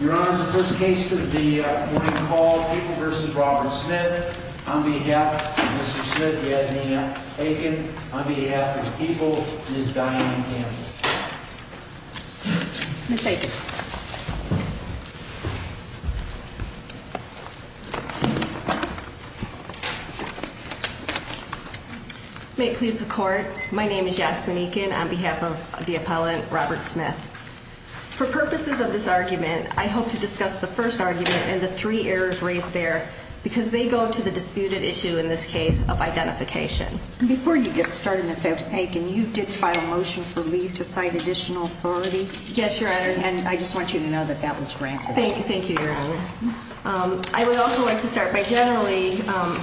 Your Honor, the first case of the morning call, People v. Robert Smith, on behalf of Mr. Smith, we have Nina Aiken, on behalf of People, Ms. Diane Campbell. Ms. Aiken. May it please the Court, my name is Yasmin Aiken, on behalf of the appellant, Robert Smith. For purposes of this argument, I hope to discuss the first argument and the three errors raised there, because they go to the disputed issue in this case of identification. Before you get started, Ms. Aiken, you did file a motion for leave to cite additional authority? Yes, Your Honor, and I just want you to know that that was granted. Thank you, Your Honor. I would also like to start by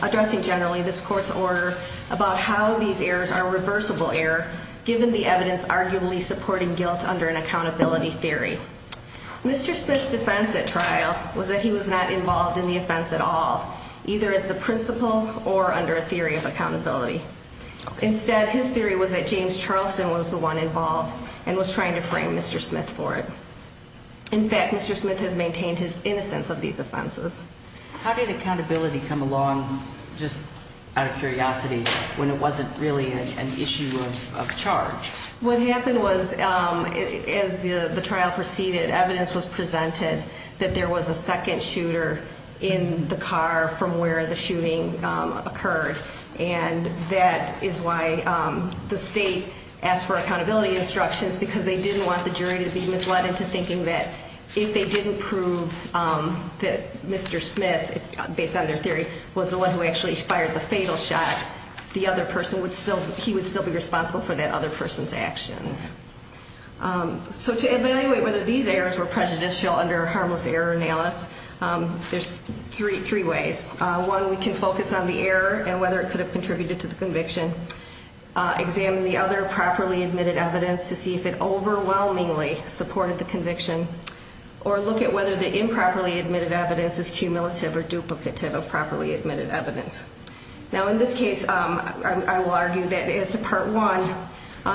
addressing generally this Court's order about how these errors are reversible error, given the evidence arguably supporting guilt under an accountability theory. Mr. Smith's defense at trial was that he was not involved in the offense at all, either as the principal or under a theory of accountability. Instead, his theory was that James Charleston was the one involved and was trying to frame Mr. Smith for it. In fact, Mr. Smith has maintained his innocence of these offenses. How did accountability come along, just out of curiosity, when it wasn't really an issue of charge? What happened was, as the trial proceeded, evidence was presented that there was a second shooter in the car from where the shooting occurred. That is why the state asked for accountability instructions, because they didn't want the jury to be misled into thinking that if they didn't prove that Mr. Smith, based on their theory, was the one who actually fired the fatal shot, the other person would still be responsible for that other person's actions. To evaluate whether these errors were prejudicial under a harmless error analysis, there are three ways. One, we can focus on the error and whether it could have contributed to the conviction, examine the other properly admitted evidence to see if it overwhelmingly supported the conviction, or look at whether the improperly admitted evidence is cumulative or duplicative of properly admitted evidence. Now, in this case, I will argue that as to Part 1,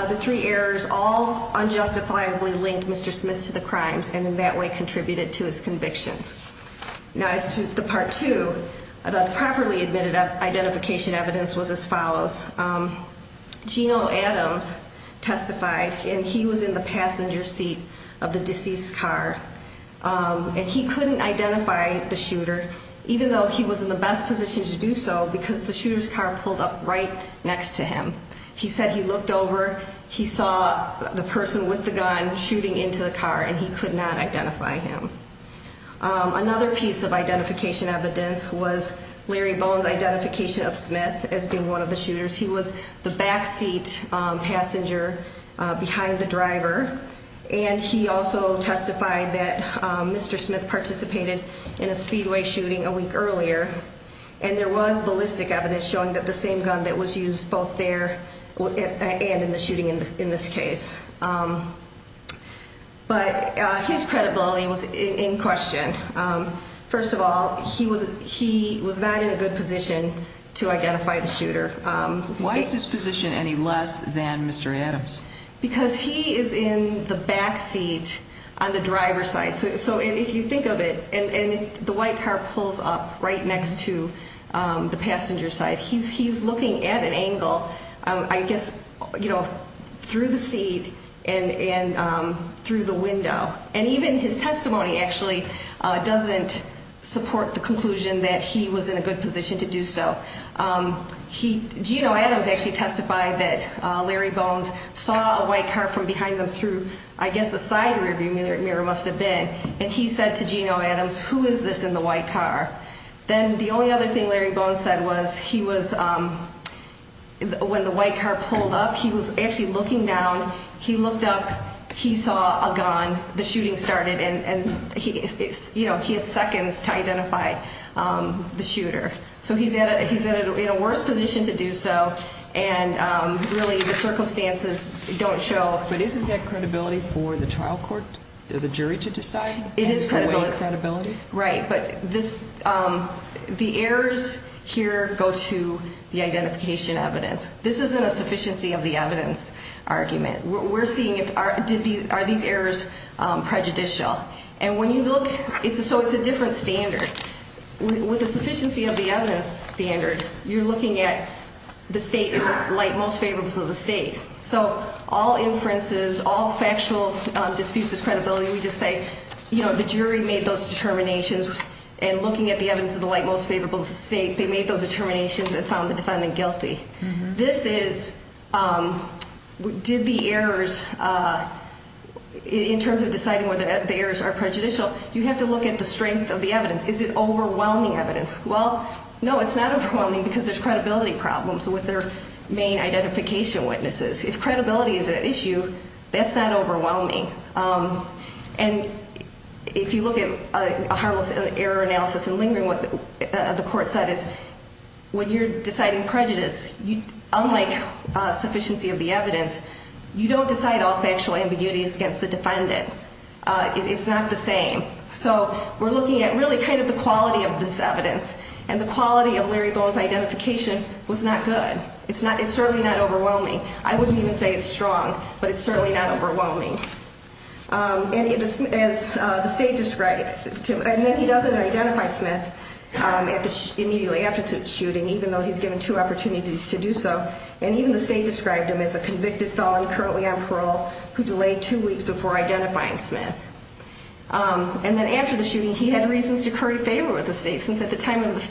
the three errors all unjustifiably linked Mr. Smith to the crimes and in that way contributed to his convictions. Now, as to the Part 2, the properly admitted identification evidence was as follows. Geno Adams testified, and he was in the passenger seat of the deceased car, and he couldn't identify the shooter, even though he was in the best position to do so, because the shooter's car pulled up right next to him. He said he looked over, he saw the person with the gun shooting into the car, and he could not identify him. Another piece of identification evidence was Larry Bones' identification of Smith as being one of the shooters. He was the backseat passenger behind the driver, and he also testified that Mr. Smith participated in a speedway shooting a week earlier, and there was ballistic evidence showing that the same gun that was used both there and in the shooting in this case. But his credibility was in question. First of all, he was not in a good position to identify the shooter. Why is his position any less than Mr. Adams? Because he is in the backseat on the driver's side. So if you think of it, and the white car pulls up right next to the passenger side. He's looking at an angle, I guess, you know, through the seat and through the window. And even his testimony actually doesn't support the conclusion that he was in a good position to do so. Gino Adams actually testified that Larry Bones saw a white car from behind him through, I guess, the side rearview mirror must have been. And he said to Gino Adams, who is this in the white car? Then the only other thing Larry Bones said was he was, when the white car pulled up, he was actually looking down. He looked up. He saw a gun. The shooting started, and he had seconds to identify the shooter. So he's in a worse position to do so, and really the circumstances don't show. But isn't that credibility for the trial court, the jury, to decide? It is credibility. For what credibility? Right, but the errors here go to the identification evidence. This isn't a sufficiency of the evidence argument. We're seeing are these errors prejudicial? And when you look, so it's a different standard. With a sufficiency of the evidence standard, you're looking at the state in the light most favorable of the state. So all inferences, all factual disputes is credibility. We just say the jury made those determinations, and looking at the evidence of the light most favorable of the state, they made those determinations and found the defendant guilty. This is did the errors, in terms of deciding whether the errors are prejudicial, you have to look at the strength of the evidence. Is it overwhelming evidence? Well, no, it's not overwhelming because there's credibility problems with their main identification witnesses. If credibility is at issue, that's not overwhelming. And if you look at a harmless error analysis and lingering what the court said is, when you're deciding prejudice, unlike sufficiency of the evidence, you don't decide all factual ambiguities against the defendant. It's not the same. So we're looking at really kind of the quality of this evidence, and the quality of Larry Bowen's identification was not good. It's certainly not overwhelming. I wouldn't even say it's strong, but it's certainly not overwhelming. And as the state described him, and he doesn't identify Smith immediately after the shooting, even though he's given two opportunities to do so. And even the state described him as a convicted felon currently on parole who delayed two weeks before identifying Smith. And then after the shooting, he had reasons to curry favor with the state, since at the time of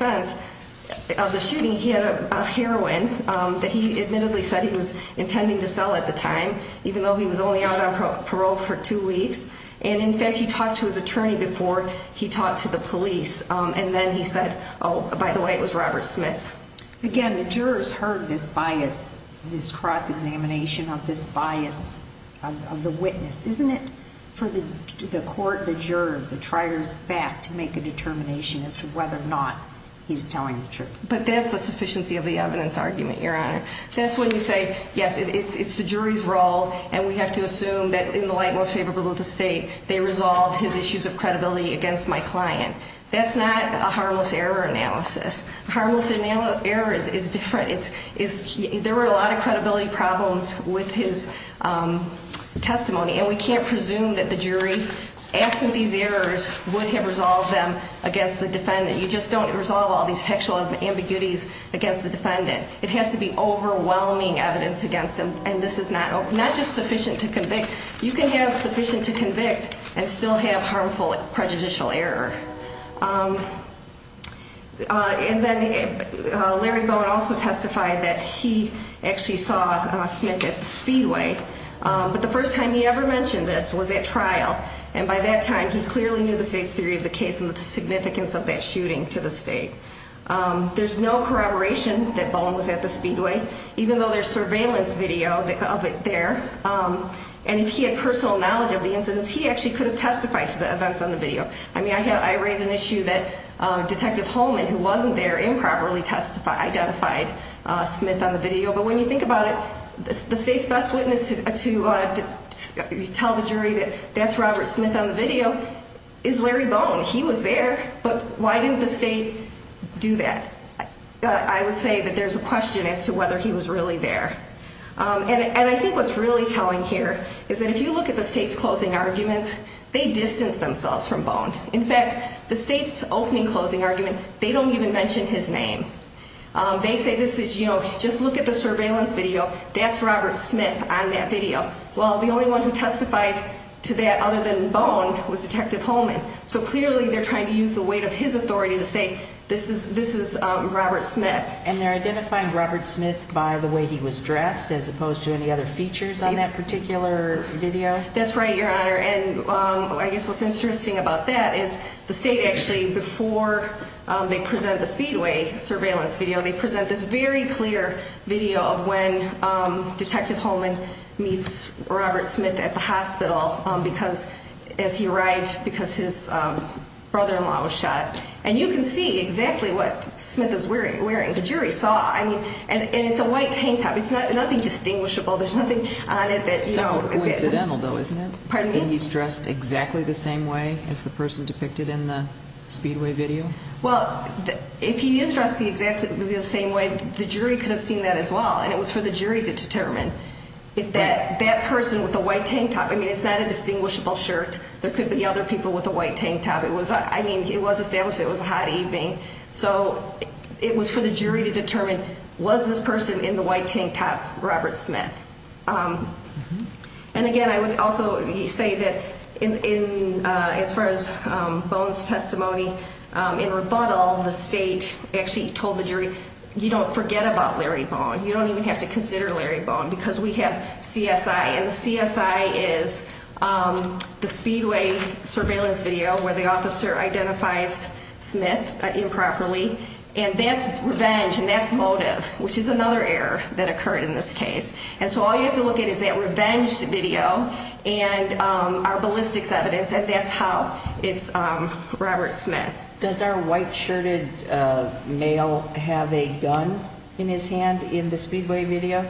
the shooting, he had a heroin that he admittedly said he was intending to sell at the time, even though he was only out on parole for two weeks. And in fact, he talked to his attorney before he talked to the police, and then he said, oh, by the way, it was Robert Smith. Again, the jurors heard this bias, this cross-examination of this bias of the witness. Isn't it for the court, the juror, the trier's back to make a determination as to whether or not he was telling the truth? But that's the sufficiency of the evidence argument, Your Honor. That's when you say, yes, it's the jury's role, and we have to assume that in the light most favorable of the state, they resolved his issues of credibility against my client. That's not a harmless error analysis. Harmless error is different. There were a lot of credibility problems with his testimony, and we can't presume that the jury, absent these errors, would have resolved them against the defendant. You just don't resolve all these sexual ambiguities against the defendant. It has to be overwhelming evidence against him, and this is not just sufficient to convict. You can have sufficient to convict and still have harmful prejudicial error. And then Larry Bowen also testified that he actually saw Smith at the Speedway. But the first time he ever mentioned this was at trial, and by that time, he clearly knew the state's theory of the case and the significance of that shooting to the state. There's no corroboration that Bowen was at the Speedway, even though there's surveillance video of it there. And if he had personal knowledge of the incidents, he actually could have testified to the events on the video. I mean, I raise an issue that Detective Holman, who wasn't there, improperly identified Smith on the video. But when you think about it, the state's best witness to tell the jury that that's Robert Smith on the video is Larry Bowen. He was there, but why didn't the state do that? I would say that there's a question as to whether he was really there. And I think what's really telling here is that if you look at the state's closing arguments, they distance themselves from Bowen. In fact, the state's opening closing argument, they don't even mention his name. They say this is, you know, just look at the surveillance video. That's Robert Smith on that video. Well, the only one who testified to that other than Bowen was Detective Holman. So clearly they're trying to use the weight of his authority to say this is Robert Smith. And they're identifying Robert Smith by the way he was dressed as opposed to any other features on that particular video? That's right, Your Honor. And I guess what's interesting about that is the state actually, before they present the Speedway surveillance video, they present this very clear video of when Detective Holman meets Robert Smith at the hospital as he arrived because his brother-in-law was shot. And you can see exactly what Smith is wearing. The jury saw. I mean, and it's a white tank top. It's nothing distinguishable. There's nothing on it that, you know. Sounds coincidental though, isn't it? Pardon me? That he's dressed exactly the same way as the person depicted in the Speedway video? Well, if he is dressed exactly the same way, the jury could have seen that as well. And it was for the jury to determine. If that person with the white tank top, I mean, it's not a distinguishable shirt. There could be other people with a white tank top. I mean, it was established it was a hot evening. So it was for the jury to determine, was this person in the white tank top Robert Smith? And again, I would also say that as far as Bone's testimony in rebuttal, the state actually told the jury, you don't forget about Larry Bone. You don't even have to consider Larry Bone because we have CSI. And the CSI is the Speedway surveillance video where the officer identifies Smith improperly. And that's revenge, and that's motive, which is another error that occurred in this case. And so all you have to look at is that revenge video and our ballistics evidence, and that's how it's Robert Smith. Does our white-shirted male have a gun in his hand in the Speedway video?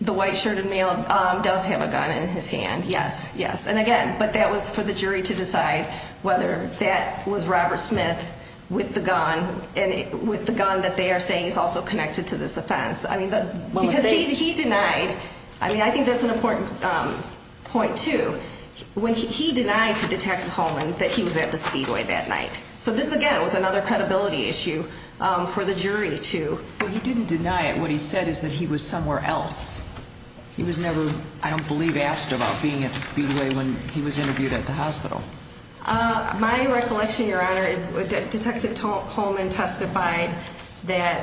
The white-shirted male does have a gun in his hand, yes, yes. And again, but that was for the jury to decide whether that was Robert Smith with the gun, and with the gun that they are saying is also connected to this offense. I mean, because he denied, I mean, I think that's an important point, too. When he denied to Detective Holman that he was at the Speedway that night. So this, again, was another credibility issue for the jury to. Well, he didn't deny it. What he said is that he was somewhere else. He was never, I don't believe, asked about being at the Speedway when he was interviewed at the hospital. My recollection, Your Honor, is that Detective Holman testified that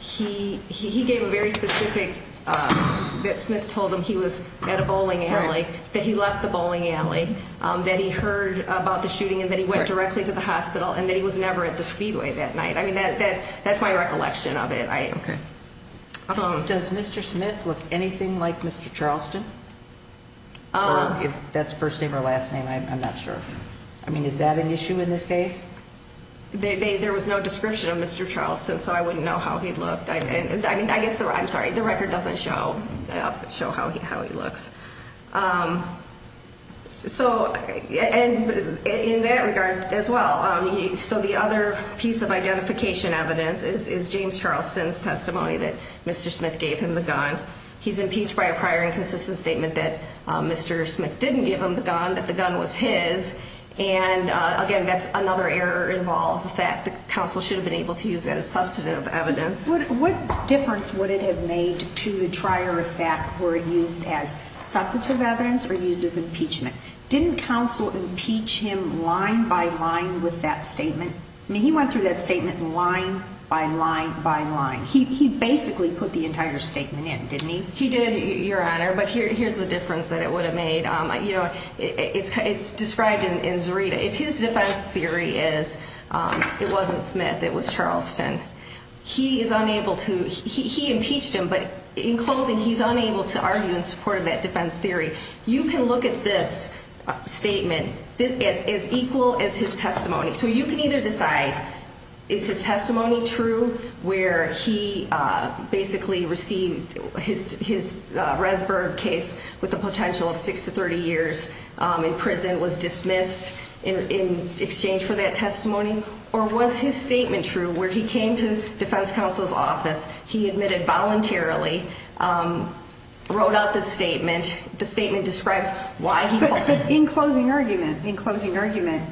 he gave a very specific, that Smith told him he was at a bowling alley, that he left the bowling alley, that he heard about the shooting and that he went directly to the hospital, and that he was never at the Speedway that night. I mean, that's my recollection of it. Okay. Does Mr. Smith look anything like Mr. Charleston? If that's first name or last name, I'm not sure. I mean, is that an issue in this case? There was no description of Mr. Charleston, so I wouldn't know how he looked. I guess, I'm sorry, the record doesn't show how he looks. So in that regard as well, so the other piece of identification evidence is James Charleston's testimony that Mr. Smith gave him the gun. He's impeached by a prior inconsistent statement that Mr. Smith didn't give him the gun, that the gun was his. And, again, that's another error involves the fact that counsel should have been able to use that as substantive evidence. What difference would it have made to the trier of fact were it used as substantive evidence or used as impeachment? Didn't counsel impeach him line by line with that statement? I mean, he went through that statement line by line by line. He basically put the entire statement in, didn't he? He did, Your Honor, but here's the difference that it would have made. You know, it's described in Zurita. If his defense theory is it wasn't Smith, it was Charleston, he is unable to, he impeached him, but in closing, he's unable to argue in support of that defense theory. You can look at this statement as equal as his testimony. So you can either decide is his testimony true where he basically received his Resburg case with the potential of 6 to 30 years in prison, and was dismissed in exchange for that testimony, or was his statement true where he came to defense counsel's office, he admitted voluntarily, wrote out the statement, the statement describes why he voted. But in closing argument, in closing argument,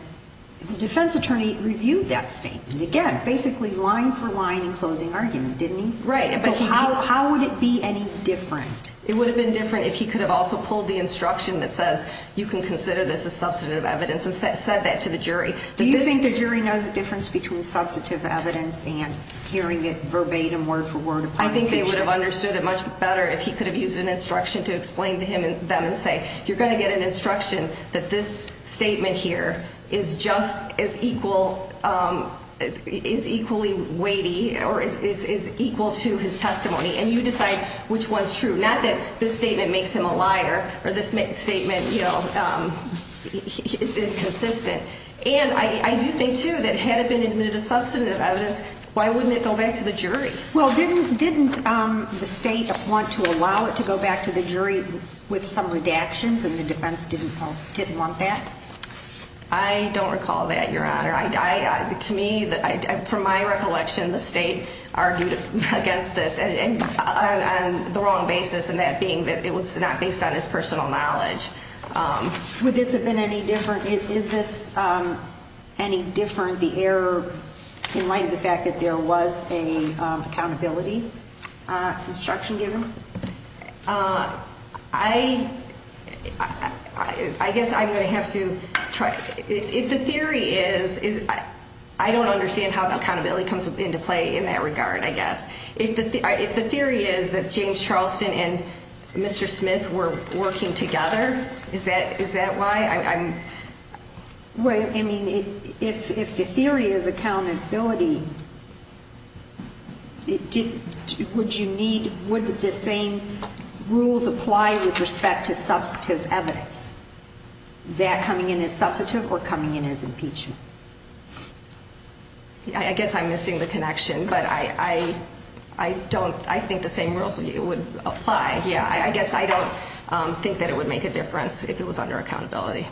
the defense attorney reviewed that statement. Again, basically line for line in closing argument, didn't he? Right. So how would it be any different? It would have been different if he could have also pulled the instruction that says you can consider this as substantive evidence and said that to the jury. Do you think the jury knows the difference between substantive evidence and hearing it verbatim word for word upon impeachment? I think they would have understood it much better if he could have used an instruction to explain to them and say, you're going to get an instruction that this statement here is just as equal, is equally weighty or is equal to his testimony, and you decide which one's true. Not that this statement makes him a liar or this statement is inconsistent. And I do think, too, that had it been admitted as substantive evidence, why wouldn't it go back to the jury? Well, didn't the state want to allow it to go back to the jury with some redactions, and the defense didn't want that? I don't recall that, Your Honor. To me, from my recollection, the state argued against this on the wrong basis, and that being that it was not based on his personal knowledge. Would this have been any different? Is this any different, the error, in light of the fact that there was an accountability instruction given? I guess I'm going to have to try. If the theory is, I don't understand how the accountability comes into play in that regard, I guess. If the theory is that James Charleston and Mr. Smith were working together, is that why? I mean, if the theory is accountability, would the same rules apply with respect to substantive evidence? That coming in as substantive or coming in as impeachment? I guess I'm missing the connection, but I think the same rules would apply. Yeah, I guess I don't think that it would make a difference if it was under accountability.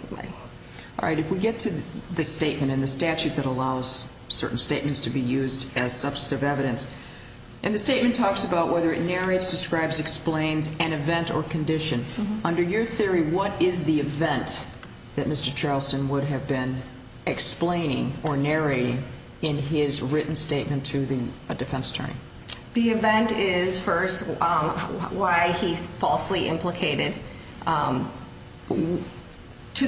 All right, if we get to the statement and the statute that allows certain statements to be used as substantive evidence, and the statement talks about whether it narrates, describes, explains an event or condition. Under your theory, what is the event that Mr. Charleston would have been explaining or narrating in his written statement to a defense attorney? The event is, first, why he falsely implicated to the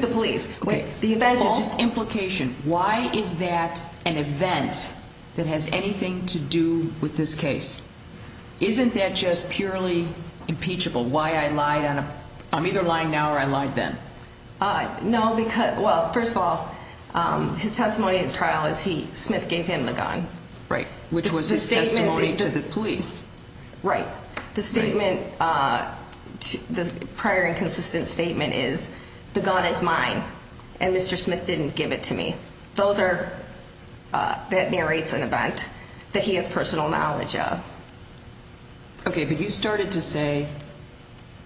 police. Okay, the event is just implication. Why is that an event that has anything to do with this case? Isn't that just purely impeachable, why I lied on a – I'm either lying now or I lied then? No, because – well, first of all, his testimony at his trial is he – Smith gave him the gun. Right, which was his testimony to the police. Right. The statement – the prior inconsistent statement is the gun is mine and Mr. Smith didn't give it to me. Those are – that narrates an event that he has personal knowledge of. Okay, but you started to say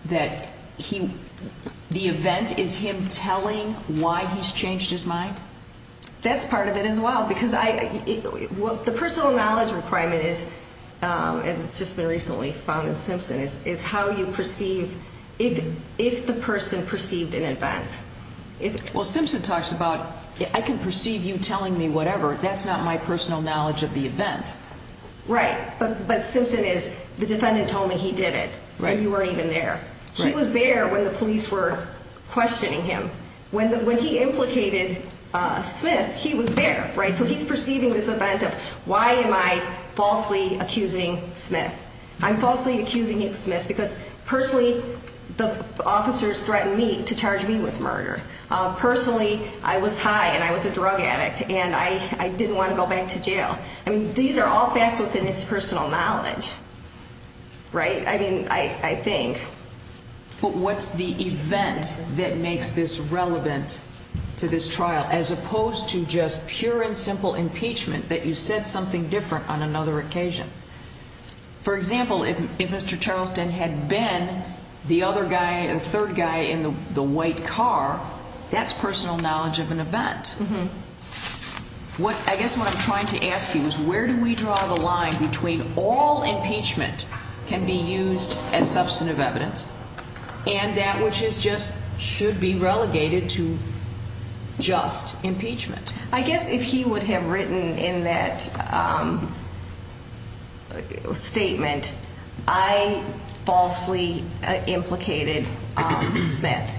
that he – the event is him telling why he's changed his mind? That's part of it as well because I – the personal knowledge requirement is, as it's just been recently found in Simpson, is how you perceive if the person perceived an event. Well, Simpson talks about I can perceive you telling me whatever. That's not my personal knowledge of the event. Right, but Simpson is the defendant told me he did it and you weren't even there. He was there when the police were questioning him. When he implicated Smith, he was there, right? So he's perceiving this event of why am I falsely accusing Smith? I'm falsely accusing Smith because personally the officers threatened me to charge me with murder. Personally, I was high and I was a drug addict and I didn't want to go back to jail. I mean, these are all facts within his personal knowledge, right? I mean, I think. But what's the event that makes this relevant to this trial as opposed to just pure and simple impeachment that you said something different on another occasion? For example, if Mr. Charleston had been the other guy, the third guy in the white car, that's personal knowledge of an event. What I guess what I'm trying to ask you is where do we draw the line between all impeachment can be used as substantive evidence and that which is just should be relegated to just impeachment? I guess if he would have written in that statement, I falsely implicated Smith.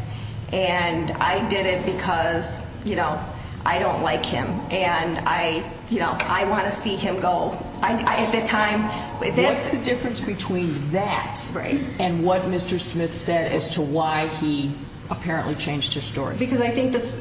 And I did it because, you know, I don't like him and I, you know, I want to see him go. At the time. What's the difference between that and what Mr. Smith said as to why he apparently changed his story? Because I think this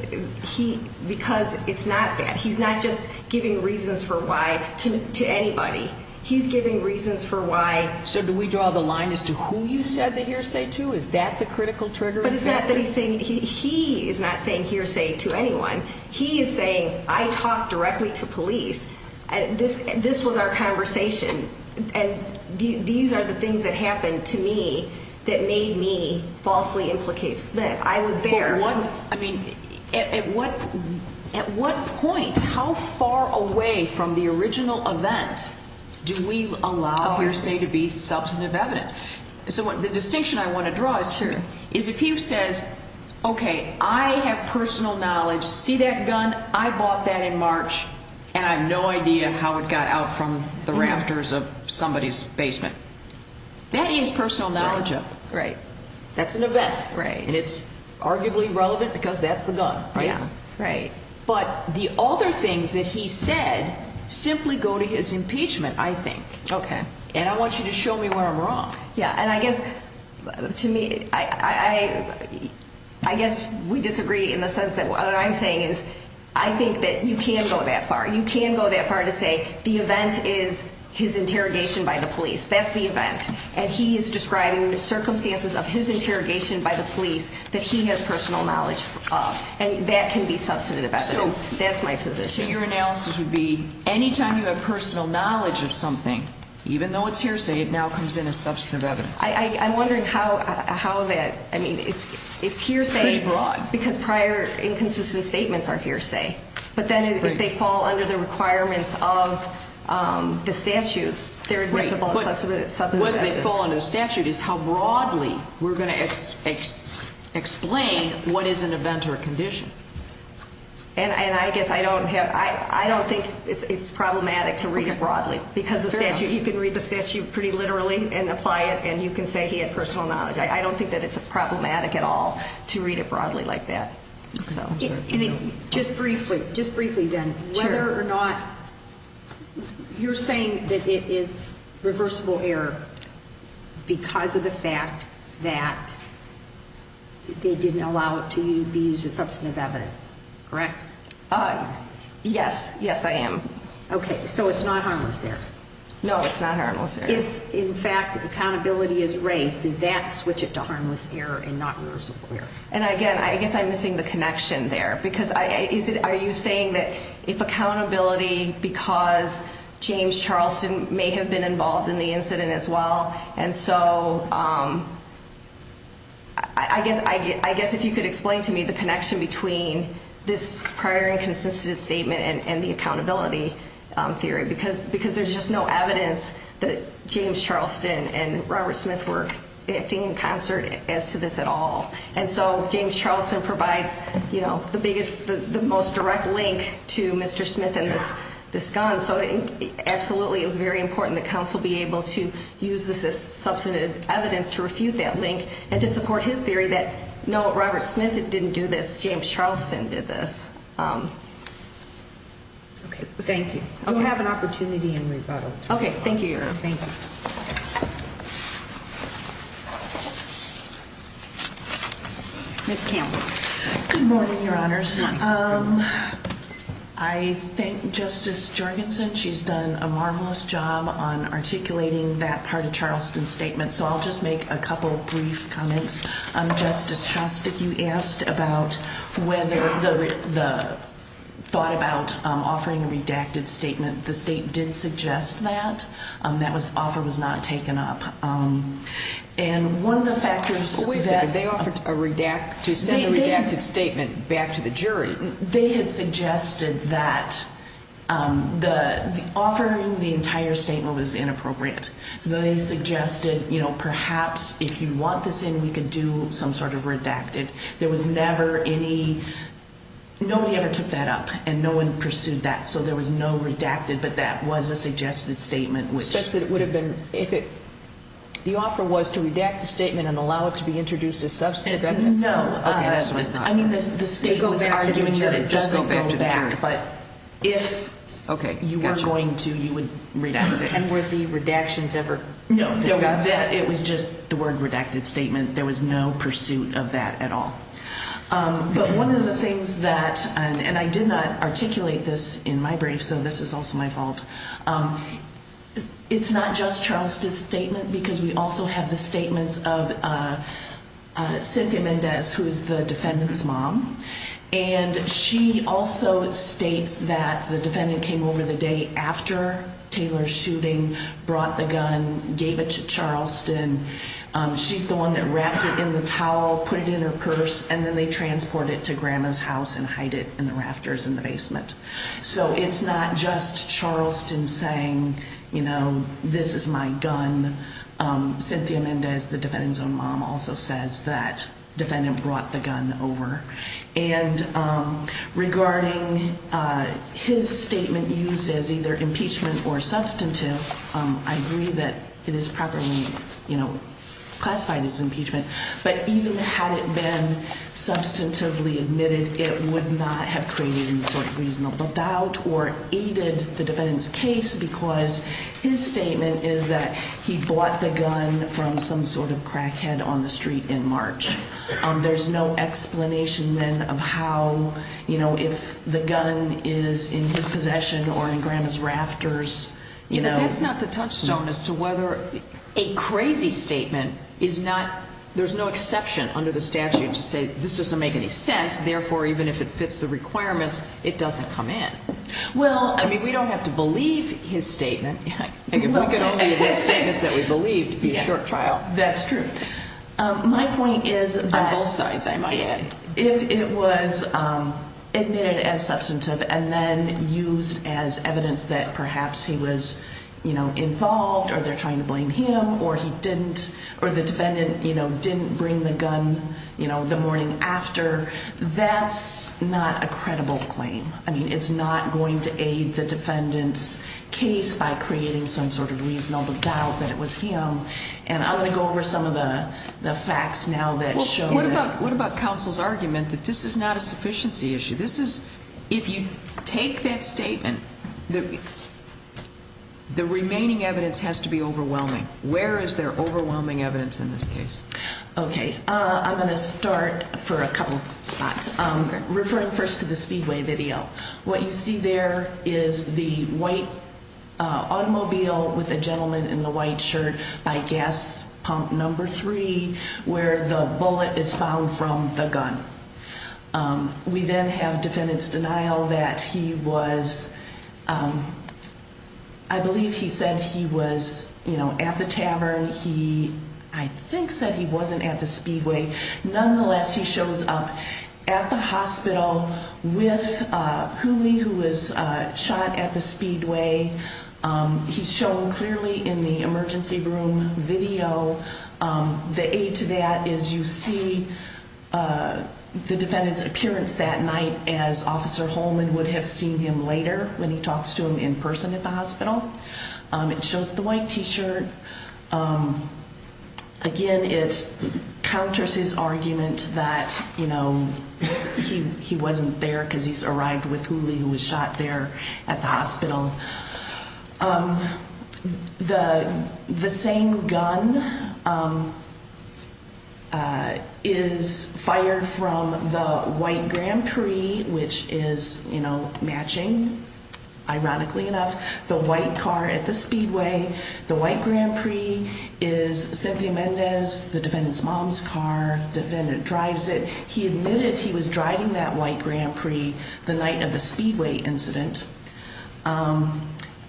he because it's not that he's not just giving reasons for why to to anybody. He's giving reasons for why. So do we draw the line as to who you said that you're saying to? Is that the critical trigger? But it's not that he's saying he is not saying hearsay to anyone. He is saying I talk directly to police. And this this was our conversation. And these are the things that happened to me that made me falsely implicate Smith. I was there one. I mean, at what at what point? How far away from the original event do we allow hearsay to be substantive evidence? So the distinction I want to draw is true is if he says, OK, I have personal knowledge. See that gun? I bought that in March and I have no idea how it got out from the rafters of somebody's basement. That is personal knowledge. Right. That's an event. Right. And it's arguably relevant because that's the gun. Yeah. Right. But the other things that he said simply go to his impeachment, I think. OK. And I want you to show me where I'm wrong. Yeah. And I guess to me, I guess we disagree in the sense that what I'm saying is I think that you can't go that far. You can't go that far to say the event is his interrogation by the police. That's the event. And he is describing the circumstances of his interrogation by the police that he has personal knowledge of. And that can be substantive evidence. That's my position. So your analysis would be any time you have personal knowledge of something, even though it's hearsay, it now comes in as substantive evidence. I'm wondering how how that I mean, it's it's hearsay abroad because prior inconsistent statements are hearsay. But then they fall under the requirements of the statute. They're great. But what they fall under the statute is how broadly we're going to explain what is an event or a condition. And I guess I don't have I don't think it's problematic to read it broadly because the statute you can read the statute pretty literally and apply it. And you can say he had personal knowledge. I don't think that it's problematic at all to read it broadly like that. So just briefly, just briefly, then whether or not you're saying that it is reversible error because of the fact that. They didn't allow it to be used as substantive evidence, correct? Yes. Yes, I am. OK, so it's not harmless there. No, it's not harmless. In fact, accountability is raised. Does that switch it to harmless error and not reversible error? And again, I guess I'm missing the connection there because I said, are you saying that if accountability because James Charleston may have been involved in the incident as well? And so I guess I guess if you could explain to me the connection between this prior inconsistent statement and the accountability theory, because because there's just no evidence that James Charleston and Robert Smith were acting in concert as to this at all. And so James Charleston provides, you know, the biggest, the most direct link to Mr. Smith and this this gun. So absolutely, it was very important that council be able to use this as substantive evidence to refute that link and to support his theory that no, Robert Smith didn't do this. James Charleston did this. OK, thank you. I'll have an opportunity in rebuttal. OK, thank you. Thank you. Miss Campbell. Good morning, Your Honors. I think Justice Jorgensen, she's done a marvelous job on articulating that part of Charleston's statement. So I'll just make a couple of brief comments. Justice Shostak, you asked about whether the thought about offering a redacted statement. The state did suggest that that was offer was not taken up. And one of the factors was that they offered a redacted statement back to the jury. They had suggested that the offering the entire statement was inappropriate. They suggested, you know, perhaps if you want this in, we could do some sort of redacted. There was never any. Nobody ever took that up and no one pursued that. So there was no redacted. But that was a suggested statement, which says that it would have been if it the offer was to redact the statement and allow it to be introduced as substantive. No, I mean, the state go back to the jury. It doesn't go back, but if you were going to, you would redact it. And were the redactions ever? No, it was just the word redacted statement. There was no pursuit of that at all. But one of the things that and I did not articulate this in my brief, so this is also my fault. It's not just Charleston's statement because we also have the statements of Cynthia Mendez, who is the defendant's mom. And she also states that the defendant came over the day after Taylor's shooting, brought the gun, gave it to Charleston. She's the one that wrapped it in the towel, put it in her purse, and then they transport it to Grandma's house and hide it in the rafters in the basement. So it's not just Charleston saying, you know, this is my gun. Cynthia Mendez, the defendant's own mom, also says that defendant brought the gun over. And regarding his statement used as either impeachment or substantive, I agree that it is properly classified as impeachment. But even had it been substantively admitted, it would not have created any sort of reasonable doubt or aided the defendant's case because his statement is that he bought the gun from some sort of crackhead on the street in March. There's no explanation then of how, you know, if the gun is in his possession or in Grandma's rafters. You know, that's not the touchstone as to whether a crazy statement is not there's no exception under the statute to say this doesn't make any sense. Therefore, even if it fits the requirements, it doesn't come in. Well, I mean, we don't have to believe his statement. If we could only believe the statements that we believed, it would be a short trial. That's true. My point is that if it was admitted as substantive and then used as evidence that perhaps he was, you know, involved or they're trying to blame him or he didn't, or the defendant, you know, didn't bring the gun, you know, the morning after, that's not a credible claim. I mean, it's not going to aid the defendant's case by creating some sort of reasonable doubt that it was him. And I'm going to go over some of the facts now that show that. What about counsel's argument that this is not a sufficiency issue? This is, if you take that statement, the remaining evidence has to be overwhelming. Where is there overwhelming evidence in this case? OK, I'm going to start for a couple of spots. Referring first to the Speedway video, what you see there is the white automobile with a gentleman in the white shirt by gas pump number three where the bullet is found from the gun. We then have defendant's denial that he was, I believe he said he was, you know, at the tavern. He, I think, said he wasn't at the Speedway. Nonetheless, he shows up at the hospital with Huli, who was shot at the Speedway. He's shown clearly in the emergency room video. The aid to that is you see the defendant's appearance that night as Officer Holman would have seen him later when he talks to him in person at the hospital. It shows the white T-shirt. Again, it counters his argument that, you know, he wasn't there because he's arrived with Huli who was shot there at the hospital. The same gun is fired from the white Grand Prix, which is, you know, matching, ironically enough. The white car at the Speedway. The white Grand Prix is Cynthia Mendez, the defendant's mom's car. The defendant drives it. He admitted he was driving that white Grand Prix the night of the Speedway incident.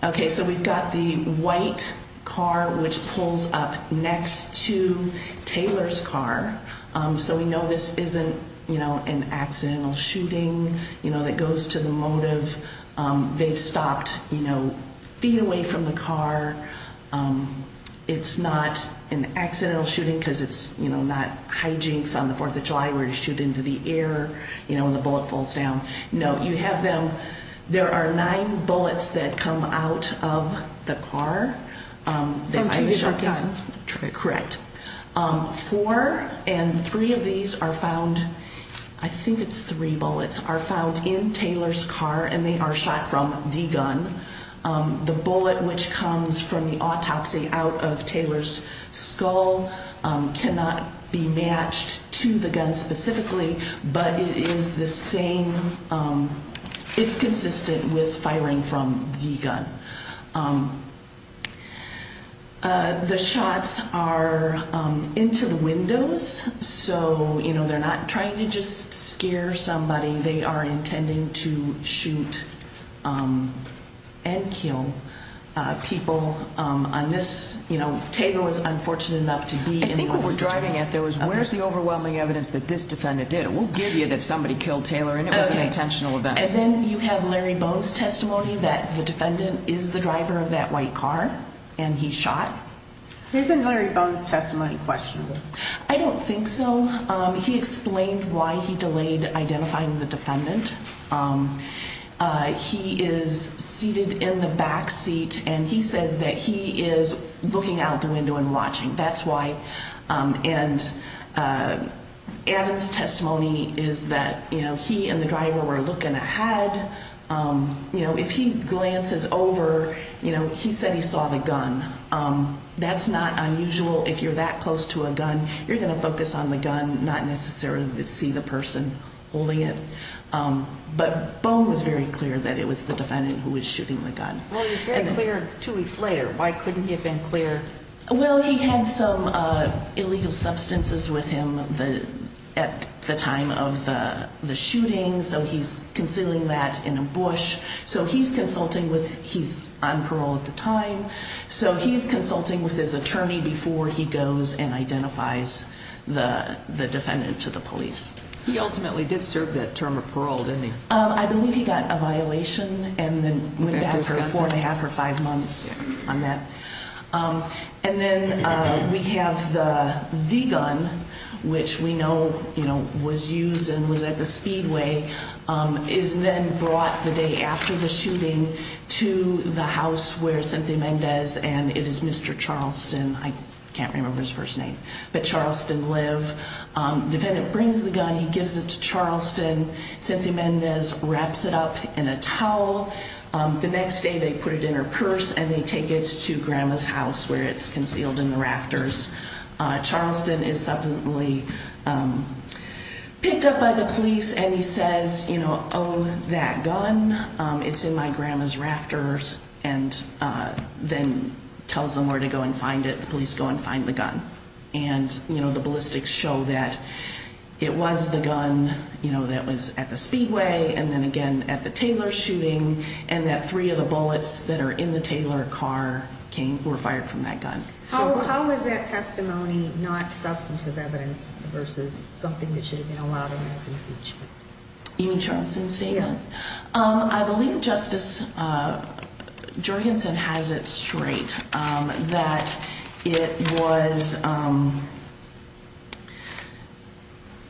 Okay, so we've got the white car, which pulls up next to Taylor's car. So we know this isn't, you know, an accidental shooting, you know, that goes to the motive. They've stopped, you know, feet away from the car. It's not an accidental shooting because it's, you know, not hijinks on the Fourth of July where you shoot into the air, you know, and the bullet falls down. No, you have them. There are nine bullets that come out of the car. From two different guns? Correct. Four and three of these are found, I think it's three bullets, are found in Taylor's car and they are shot from the gun. The bullet which comes from the autopsy out of Taylor's skull cannot be matched to the gun specifically, but it is the same. It's consistent with firing from the gun. The shots are into the windows, so, you know, they're not trying to just scare somebody. They are intending to shoot and kill people on this. You know, Taylor was unfortunate enough to be involved. I think what we're driving at, though, is where's the overwhelming evidence that this defendant did? We'll give you that somebody killed Taylor and it was an intentional event. And then you have Larry Bones' testimony that the defendant is the driver of that white car and he shot. Isn't Larry Bones' testimony questionable? I don't think so. He explained why he delayed identifying the defendant. He is seated in the back seat and he says that he is looking out the window and watching. That's why. And Adam's testimony is that, you know, he and the driver were looking ahead. You know, if he glances over, you know, he said he saw the gun. That's not unusual. If you're that close to a gun, you're going to focus on the gun, not necessarily see the person holding it. But Bones was very clear that it was the defendant who was shooting the gun. Well, he was very clear two weeks later. Why couldn't he have been clear? Well, he had some illegal substances with him at the time of the shooting, so he's concealing that in a bush. So he's consulting with his attorney before he goes and identifies the defendant to the police. He ultimately did serve that term of parole, didn't he? I believe he got a violation and then went back for four and a half or five months on that. And then we have the gun, which we know, you know, was used and was at the Speedway, is then brought the day after the shooting to the house where Cynthia Mendez and it is Mr. Charleston. I can't remember his first name, but Charleston live. Defendant brings the gun. He gives it to Charleston. Cynthia Mendez wraps it up in a towel. The next day they put it in her purse and they take it to grandma's house where it's concealed in the rafters. Charleston is suddenly picked up by the police and he says, you know, oh, that gun. It's in my grandma's rafters and then tells them where to go and find it. And, you know, the ballistics show that it was the gun, you know, that was at the Speedway. And then again at the Taylor shooting and that three of the bullets that are in the Taylor car came were fired from that gun. How was that testimony not substantive evidence versus something that should have been allowed in this impeachment? I believe Justice Jorgensen has it straight that it was.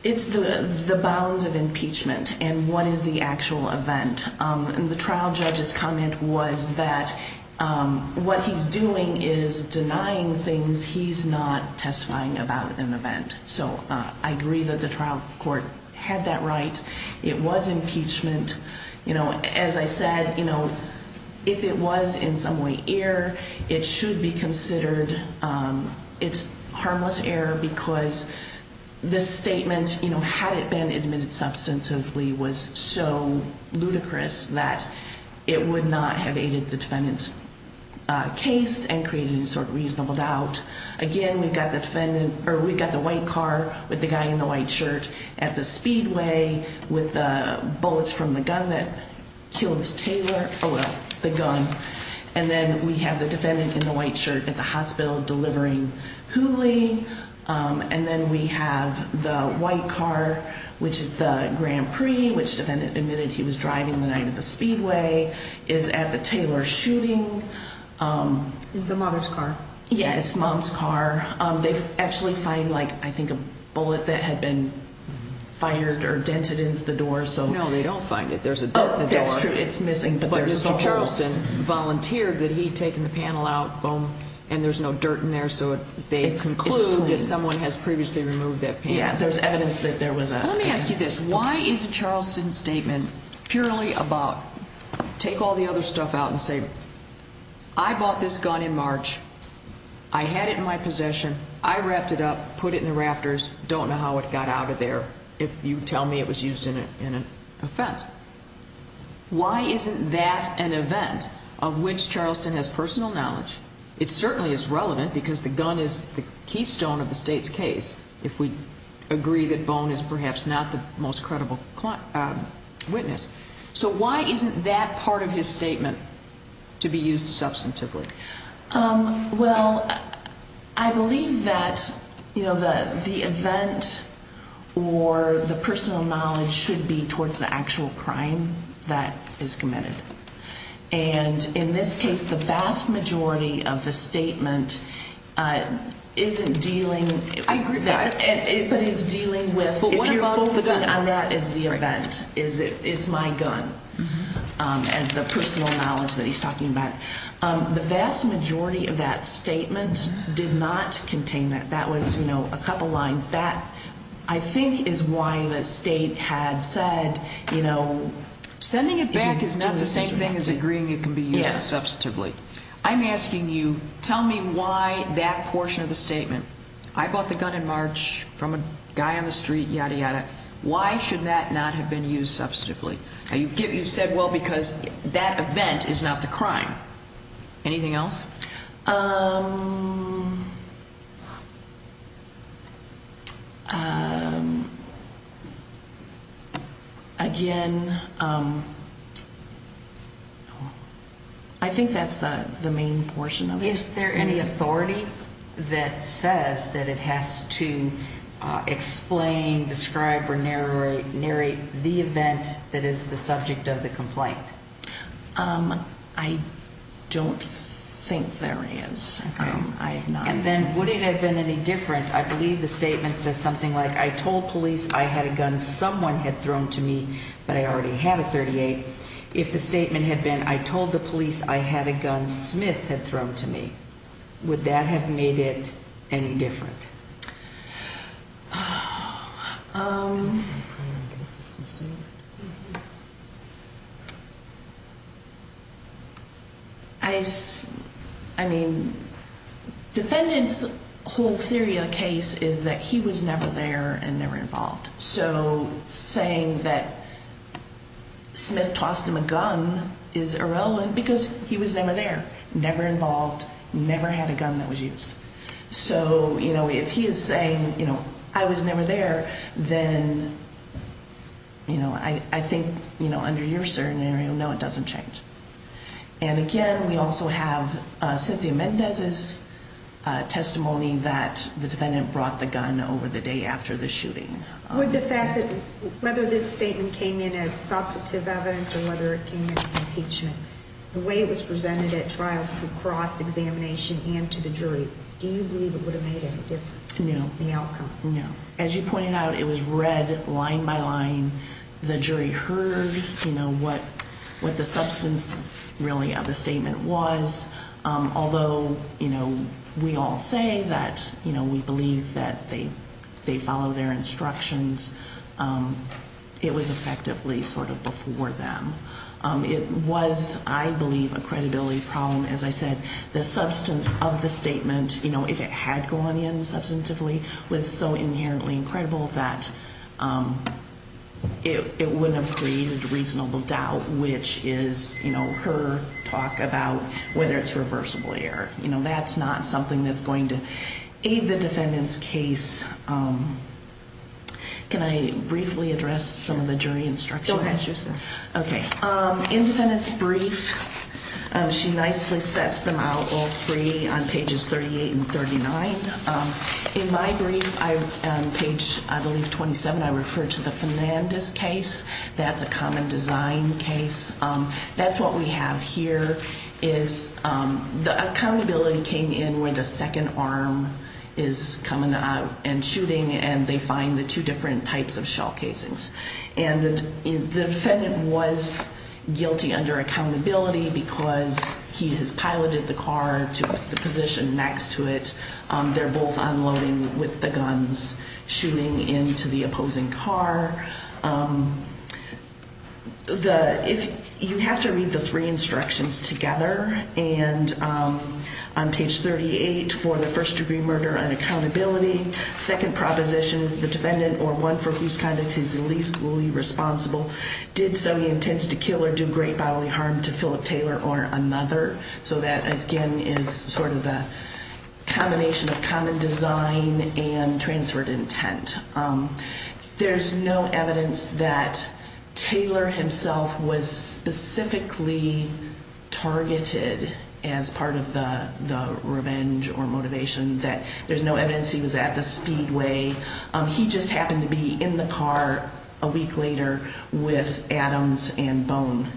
It's the bounds of impeachment and what is the actual event? And the trial judge's comment was that what he's doing is denying things. He's not testifying about an event. So I agree that the trial court had that right. It was impeachment. You know, as I said, you know, if it was in some way air, it should be considered. It's harmless air because this statement, you know, had it been admitted substantively, was so ludicrous that it would not have aided the defendant's case and created sort of reasonable doubt. Again, we've got the defendant or we've got the white car with the guy in the white shirt at the Speedway with the bullets from the gun that killed Taylor. Oh, the gun. And then we have the defendant in the white shirt at the hospital delivering Hooli. And then we have the white car, which is the Grand Prix, which the defendant admitted he was driving the night of the Speedway is at the Taylor shooting. Is the mother's car? Yeah, it's mom's car. They actually find, like, I think a bullet that had been fired or dented into the door. So, no, they don't find it. There's a that's true. It's missing, but Mr. Charleston volunteered that he'd taken the panel out and there's no dirt in there. So they conclude that someone has previously removed that. Yeah, there's evidence that there was. Let me ask you this. Why is a Charleston statement purely about take all the other stuff out and say I bought this gun in March? I had it in my possession. I wrapped it up, put it in the rafters. Don't know how it got out of there. If you tell me it was used in an offense. Why isn't that an event of which Charleston has personal knowledge? It certainly is relevant because the gun is the keystone of the state's case. If we agree that bone is perhaps not the most credible witness. So why isn't that part of his statement to be used substantively? Well, I believe that the event or the personal knowledge should be towards the actual crime that is committed. And in this case, the vast majority of the statement isn't dealing. I agree with that. But it's dealing with if you're focusing on that as the event. It's my gun as the personal knowledge that he's talking about. The vast majority of that statement did not contain that. That was a couple lines. That I think is why the state had said. Sending it back is not the same thing as agreeing it can be used substantively. I'm asking you, tell me why that portion of the statement. I bought the gun in March from a guy on the street, yada, yada. Why should that not have been used substantively? You said, well, because that event is not the crime. Anything else? Again, I think that's the main portion of it. Is there any authority that says that it has to explain, describe, or narrate the event that is the subject of the complaint? I don't think there is. And then would it have been any different, I believe the statement says something like, I told police I had a gun someone had thrown to me, but I already had a .38. If the statement had been, I told the police I had a gun Smith had thrown to me, would that have made it any different? I mean, defendant's whole theory of the case is that he was never there and never involved. So saying that Smith tossed him a gun is irrelevant because he was never there, never involved, never had a gun that was used. So, you know, if he is saying, you know, I was never there, then, you know, I think, you know, under your scenario, no, it doesn't change. And again, we also have Cynthia Mendez's testimony that the defendant brought the gun over the day after the shooting. Would the fact that whether this statement came in as substantive evidence or whether it came in as impeachment, the way it was presented at trial for cross examination and to the jury, do you believe it would have made a difference in the outcome? No. As you pointed out, it was read line by line. The jury heard, you know, what what the substance really of the statement was. Although, you know, we all say that, you know, we believe that they they follow their instructions. It was effectively sort of before them. It was, I believe, a credibility problem. As I said, the substance of the statement, you know, if it had gone in substantively was so inherently incredible that it wouldn't have created a reasonable doubt, which is, you know, her talk about whether it's reversible error. You know, that's not something that's going to aid the defendant's case. Can I briefly address some of the jury instruction? OK. Independence brief. She nicely sets them out all three on pages thirty eight and thirty nine. In my brief, I page, I believe, twenty seven. I refer to the Fernandez case. That's a common design case. That's what we have here is the accountability came in where the second arm is coming out and shooting and they find the two different types of shell casings. And the defendant was guilty under accountability because he has piloted the car to the position next to it. They're both unloading with the guns shooting into the opposing car. The if you have to read the three instructions together and on page thirty eight for the first degree murder and accountability. Second propositions, the defendant or one for whose conduct is the least fully responsible did so. He intended to kill or do great bodily harm to Philip Taylor or another. So that, again, is sort of a combination of common design and transferred intent. There's no evidence that Taylor himself was specifically targeted as part of the revenge or motivation. That there's no evidence he was at the speedway. He just happened to be in the car a week later with Adams and Bone.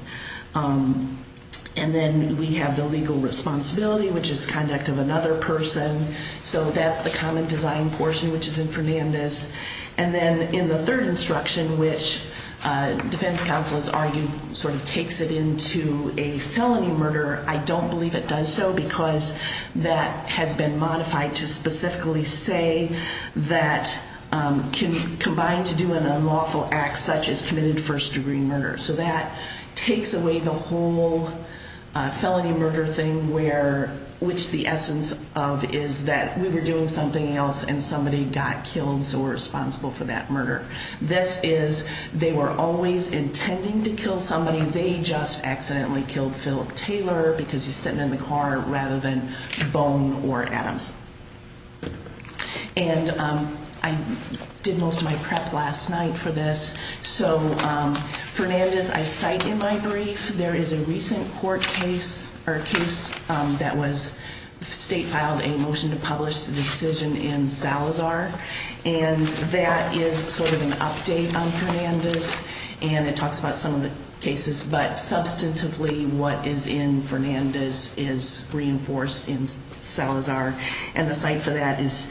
And then we have the legal responsibility, which is conduct of another person. So that's the common design portion, which is in Fernandez. And then in the third instruction, which defense counsel has argued sort of takes it into a felony murder. I don't believe it does so because that has been modified to specifically say that can combine to do an unlawful act such as committed first degree murder. So that takes away the whole felony murder thing where which the essence of is that we were doing something else and somebody got killed. So we're responsible for that murder. This is they were always intending to kill somebody. And they just accidentally killed Philip Taylor because he's sitting in the car rather than Bone or Adams. And I did most of my prep last night for this. So Fernandez, I cite in my brief, there is a recent court case or case that was state filed a motion to publish the decision in Salazar. And that is sort of an update on Fernandez. And it talks about some of the cases. But substantively, what is in Fernandez is reinforced in Salazar. And the site for that is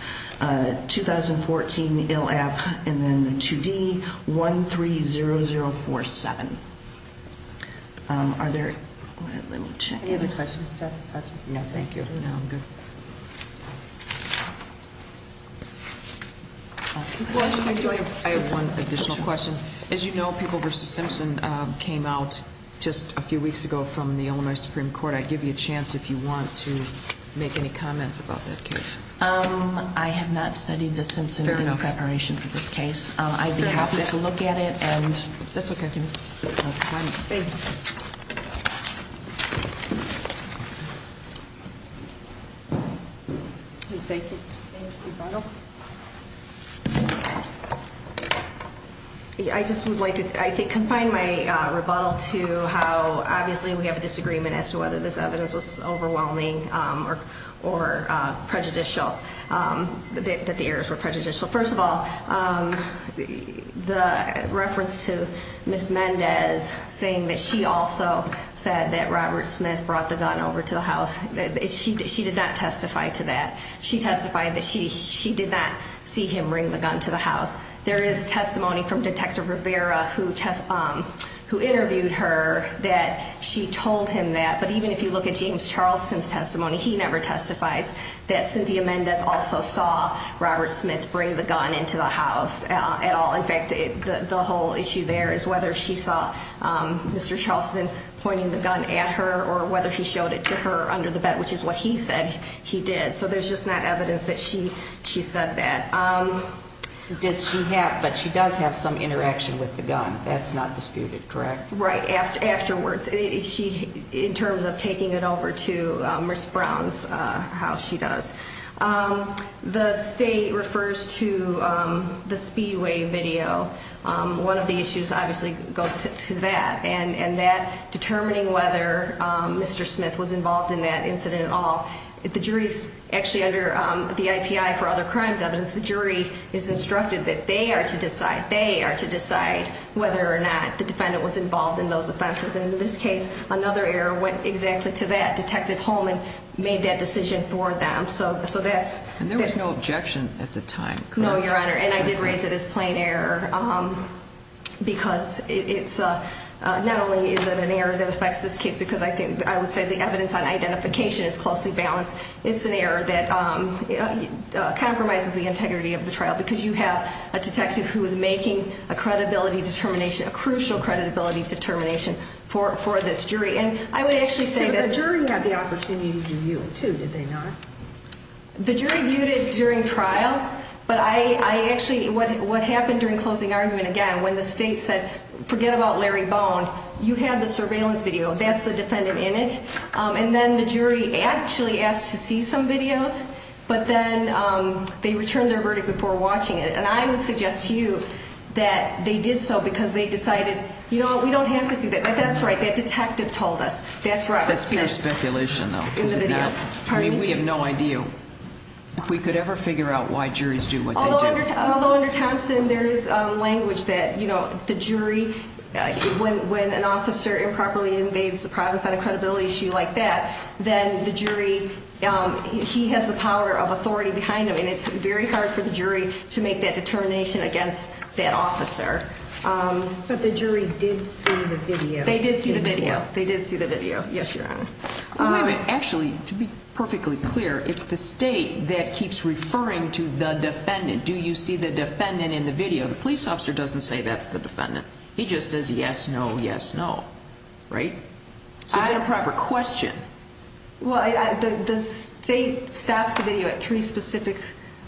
2014 ILAP and then 2D 130047. Are there, let me check. Any other questions, Justice Hutchins? No, thank you. No, I'm good. I have one additional question. As you know, People v. Simpson came out just a few weeks ago from the Illinois Supreme Court. I'd give you a chance if you want to make any comments about that case. I have not studied the Simpson in preparation for this case. I'd be happy to look at it. That's okay. Thank you. Thank you. Please take your rebuttal. I just would like to, I think, confine my rebuttal to how obviously we have a disagreement as to whether this evidence was overwhelming or prejudicial, that the errors were prejudicial. First of all, the reference to Ms. Mendez saying that she also said that Robert Smith brought the gun over to the house, she did not testify to that. She testified that she did not see him bring the gun to the house. There is testimony from Detective Rivera who interviewed her that she told him that. But even if you look at James Charleston's testimony, he never testifies that Cynthia Mendez also saw Robert Smith bring the gun into the house at all. In fact, the whole issue there is whether she saw Mr. Charleston pointing the gun at her or whether he showed it to her under the bed, which is what he said he did. So there's just not evidence that she said that. But she does have some interaction with the gun. That's not disputed, correct? Right, afterwards, in terms of taking it over to Ms. Brown's house, she does. The state refers to the Speedway video. One of the issues obviously goes to that, and that determining whether Mr. Smith was involved in that incident at all. The jury is actually under the IPI for other crimes evidence. The jury is instructed that they are to decide whether or not the defendant was involved in those offenses. And in this case, another error went exactly to that. Detective Holman made that decision for them. And there was no objection at the time, correct? No, Your Honor, and I did raise it as plain error because not only is it an error that affects this case, because I would say the evidence on identification is closely balanced, it's an error that compromises the integrity of the trial, because you have a detective who is making a credibility determination, a crucial credibility determination for this jury. And I would actually say that... But the jury had the opportunity to view it, too, did they not? The jury viewed it during trial, but I actually... What happened during closing argument, again, when the state said, forget about Larry Bond, you have the surveillance video, that's the defendant in it, and then the jury actually asked to see some videos, but then they returned their verdict before watching it. And I would suggest to you that they did so because they decided, you know what, we don't have to see that. That's right, that detective told us. That's pure speculation, though. We have no idea. If we could ever figure out why juries do what they do. Although under Thompson there is language that the jury, when an officer improperly invades the province on a credibility issue like that, then the jury, he has the power of authority behind him, and it's very hard for the jury to make that determination against that officer. But the jury did see the video. They did see the video. They did see the video, yes, Your Honor. Wait a minute. Actually, to be perfectly clear, it's the state that keeps referring to the defendant. Do you see the defendant in the video? The police officer doesn't say that's the defendant. He just says yes, no, yes, no, right? So it's a proper question. Well, the state stops the video at three specific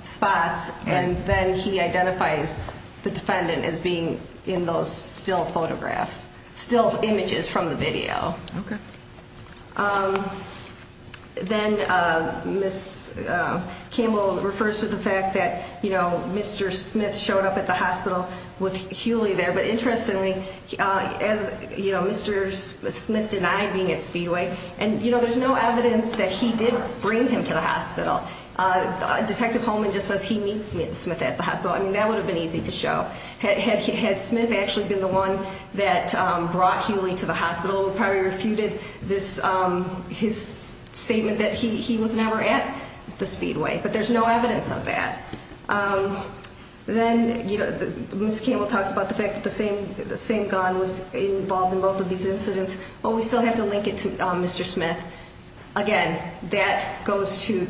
spots, and then he identifies the defendant as being in those still photographs, still images from the video. Okay. Then Ms. Campbell refers to the fact that, you know, Mr. Smith showed up at the hospital with Hewley there. But interestingly, as, you know, Mr. Smith denied being at Speedway, and, you know, there's no evidence that he did bring him to the hospital. Detective Holman just says he meets Smith at the hospital. I mean, that would have been easy to show. Had Smith actually been the one that brought Hewley to the hospital, he probably refuted his statement that he was never at the Speedway. But there's no evidence of that. Then Ms. Campbell talks about the fact that the same gun was involved in both of these incidents. Well, we still have to link it to Mr. Smith. Again, that goes to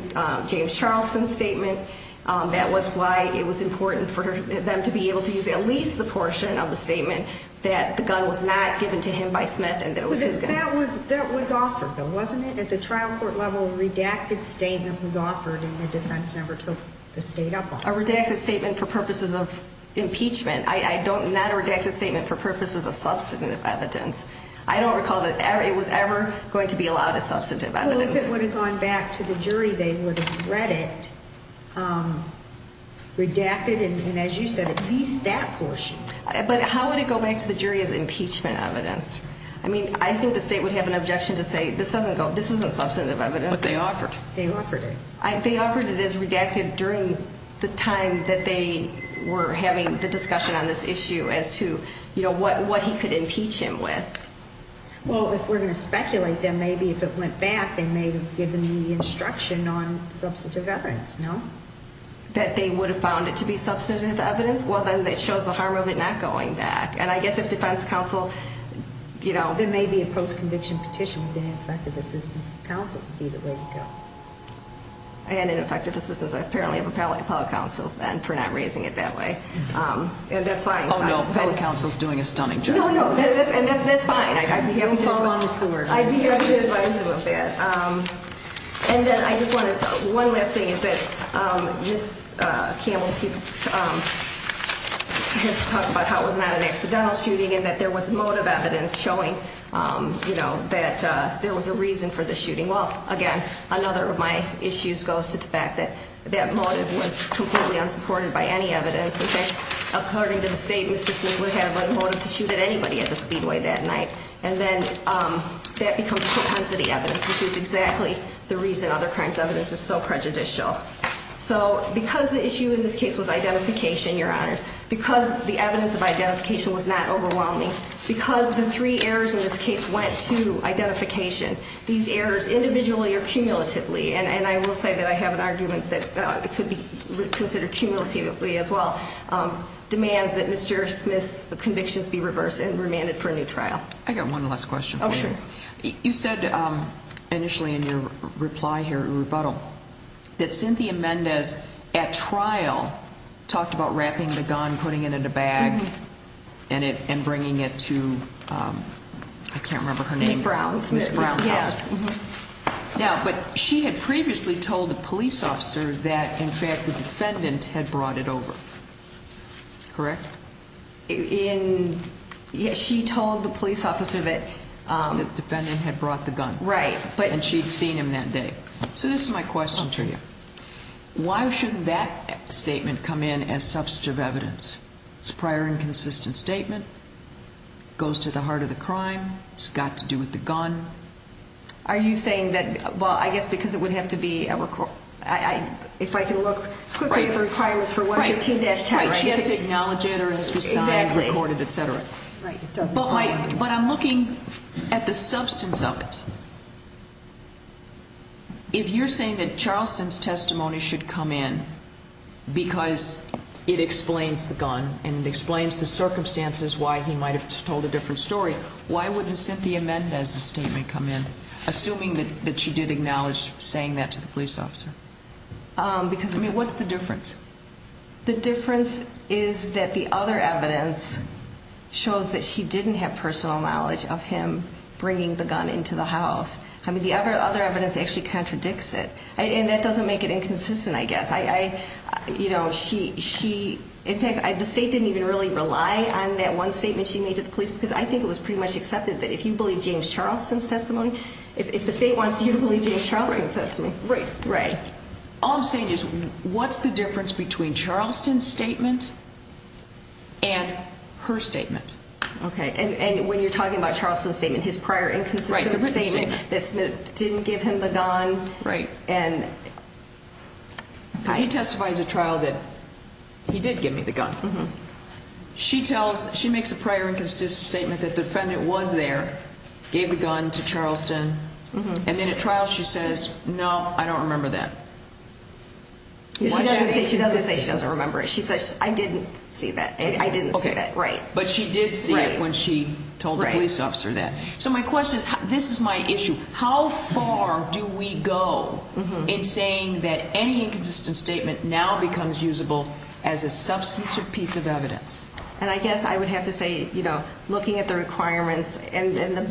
James Charlson's statement. That was why it was important for them to be able to use at least the portion of the statement that the gun was not given to him by Smith and that it was his gun. That was offered, though, wasn't it? At the trial court level, a redacted statement was offered, and the defense never took the state up on it. A redacted statement for purposes of impeachment. Not a redacted statement for purposes of substantive evidence. I don't recall that it was ever going to be allowed as substantive evidence. Well, if it would have gone back to the jury, they would have read it, redacted, and as you said, at least that portion. But how would it go back to the jury as impeachment evidence? I mean, I think the state would have an objection to say this isn't substantive evidence. But they offered it. They offered it. They offered it as redacted during the time that they were having the discussion on this issue as to what he could impeach him with. Well, if we're going to speculate, then maybe if it went back, they may have given the instruction on substantive evidence, no? That they would have found it to be substantive evidence? Well, then that shows the harm of it not going back. And I guess if defense counsel, you know. There may be a post-conviction petition with ineffective assistance of counsel, would be the way to go. And ineffective assistance, apparently, of a public counsel then for not raising it that way. And that's fine. Oh, no. Public counsel is doing a stunning job. No, no. And that's fine. I'd be happy to advise them of that. And then I just want to, one last thing is that Ms. Campbell keeps, has talked about how it was not an accidental shooting and that there was motive evidence showing that there was a reason for the shooting. Well, again, another of my issues goes to the fact that that motive was completely unsupported by any evidence. According to the state, Mr. Smith would have a motive to shoot at anybody at the speedway that night. And then that becomes propensity evidence, which is exactly the reason other crimes evidence is so prejudicial. So because the issue in this case was identification, Your Honor, because the evidence of identification was not overwhelming, because the three errors in this case went to identification, these errors individually or cumulatively, and I will say that I have an argument that it could be considered cumulatively as well, demands that Mr. Smith's convictions be reversed and remanded for a new trial. I got one last question for you. Oh, sure. You said initially in your reply here at rebuttal that Cynthia Mendez at trial talked about wrapping the gun, putting it in a bag, and bringing it to, I can't remember her name. Ms. Brown. Ms. Brown House. Yes. Now, but she had previously told the police officer that, in fact, the defendant had brought it over. Correct? In, yes, she told the police officer that. The defendant had brought the gun. Right. And she had seen him that day. So this is my question to you. Why shouldn't that statement come in as substantive evidence? It's a prior and consistent statement. It goes to the heart of the crime. It's got to do with the gun. Are you saying that, well, I guess because it would have to be, if I can look quickly at the requirements for 113-10. Right, she has to acknowledge it or it has to be signed, recorded, et cetera. But I'm looking at the substance of it. If you're saying that Charleston's testimony should come in because it explains the gun and it explains the circumstances why he might have told a different story, why wouldn't Cynthia Mendez's statement come in, assuming that she did acknowledge saying that to the police officer? I mean, what's the difference? The difference is that the other evidence shows that she didn't have personal knowledge of him bringing the gun into the house. I mean, the other evidence actually contradicts it. And that doesn't make it inconsistent, I guess. In fact, the state didn't even really rely on that one statement she made to the police because I think it was pretty much accepted that if you believe James Charleston's testimony, if the state wants you to believe James Charleston's testimony. Right. All I'm saying is what's the difference between Charleston's statement and her statement? Okay. And when you're talking about Charleston's statement, his prior inconsistent statement that Smith didn't give him the gun. Right. Because he testifies at trial that he did give me the gun. She makes a prior inconsistent statement that the defendant was there, gave the gun to Charleston, and then at trial she says, no, I don't remember that. She doesn't say she doesn't remember it. She says, I didn't see that. I didn't see that, right. But she did see it when she told the police officer that. So my question is, this is my issue. How far do we go in saying that any inconsistent statement now becomes usable as a substantive piece of evidence? And I guess I would have to say, you know, looking at the requirements, and the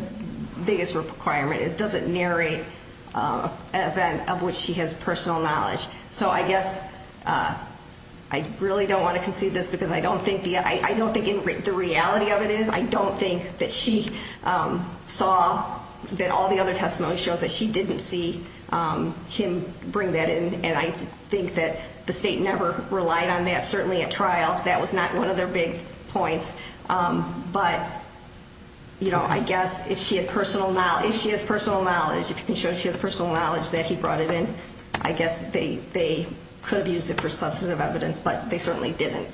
biggest requirement is, does it narrate an event of which she has personal knowledge? So I guess I really don't want to concede this because I don't think the reality of it is. I don't think that she saw that all the other testimony shows that she didn't see him bring that in. And I think that the state never relied on that, certainly at trial. That was not one of their big points. But, you know, I guess if she has personal knowledge, if you can show she has personal knowledge that he brought it in, I guess they could have used it for substantive evidence, but they certainly didn't.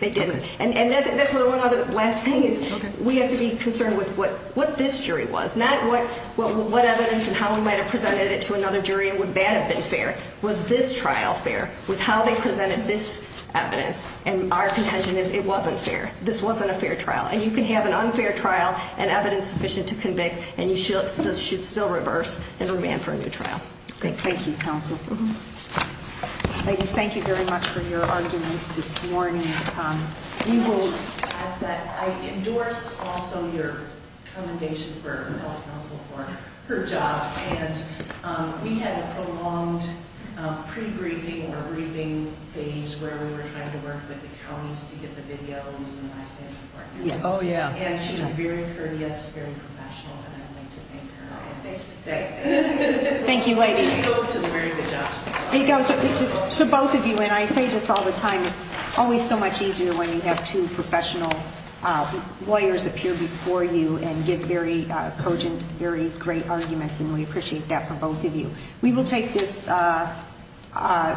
They didn't. And that's one other last thing is we have to be concerned with what this jury was, not what evidence and how we might have presented it to another jury and would that have been fair. Was this trial fair with how they presented this evidence? And our contention is it wasn't fair. This wasn't a fair trial. And you can have an unfair trial and evidence sufficient to convict, and you should still reverse and remand for a new trial. Thank you, counsel. Ladies, thank you very much for your arguments this morning. I endorse also your commendation for counsel for her job. And we had a prolonged pre-briefing or briefing phase where we were trying to work with the counties to get the videos. Oh, yeah. And she was very courteous, very professional. And I'd like to thank her. Thank you, ladies. Very good job. To both of you, and I say this all the time, it's always so much easier when you have two professional lawyers appear before you and give very cogent, very great arguments, and we appreciate that from both of you. We will take this under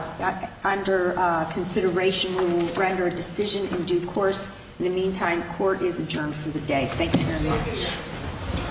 consideration. We will render a decision in due course. In the meantime, court is adjourned for the day. Thank you very much.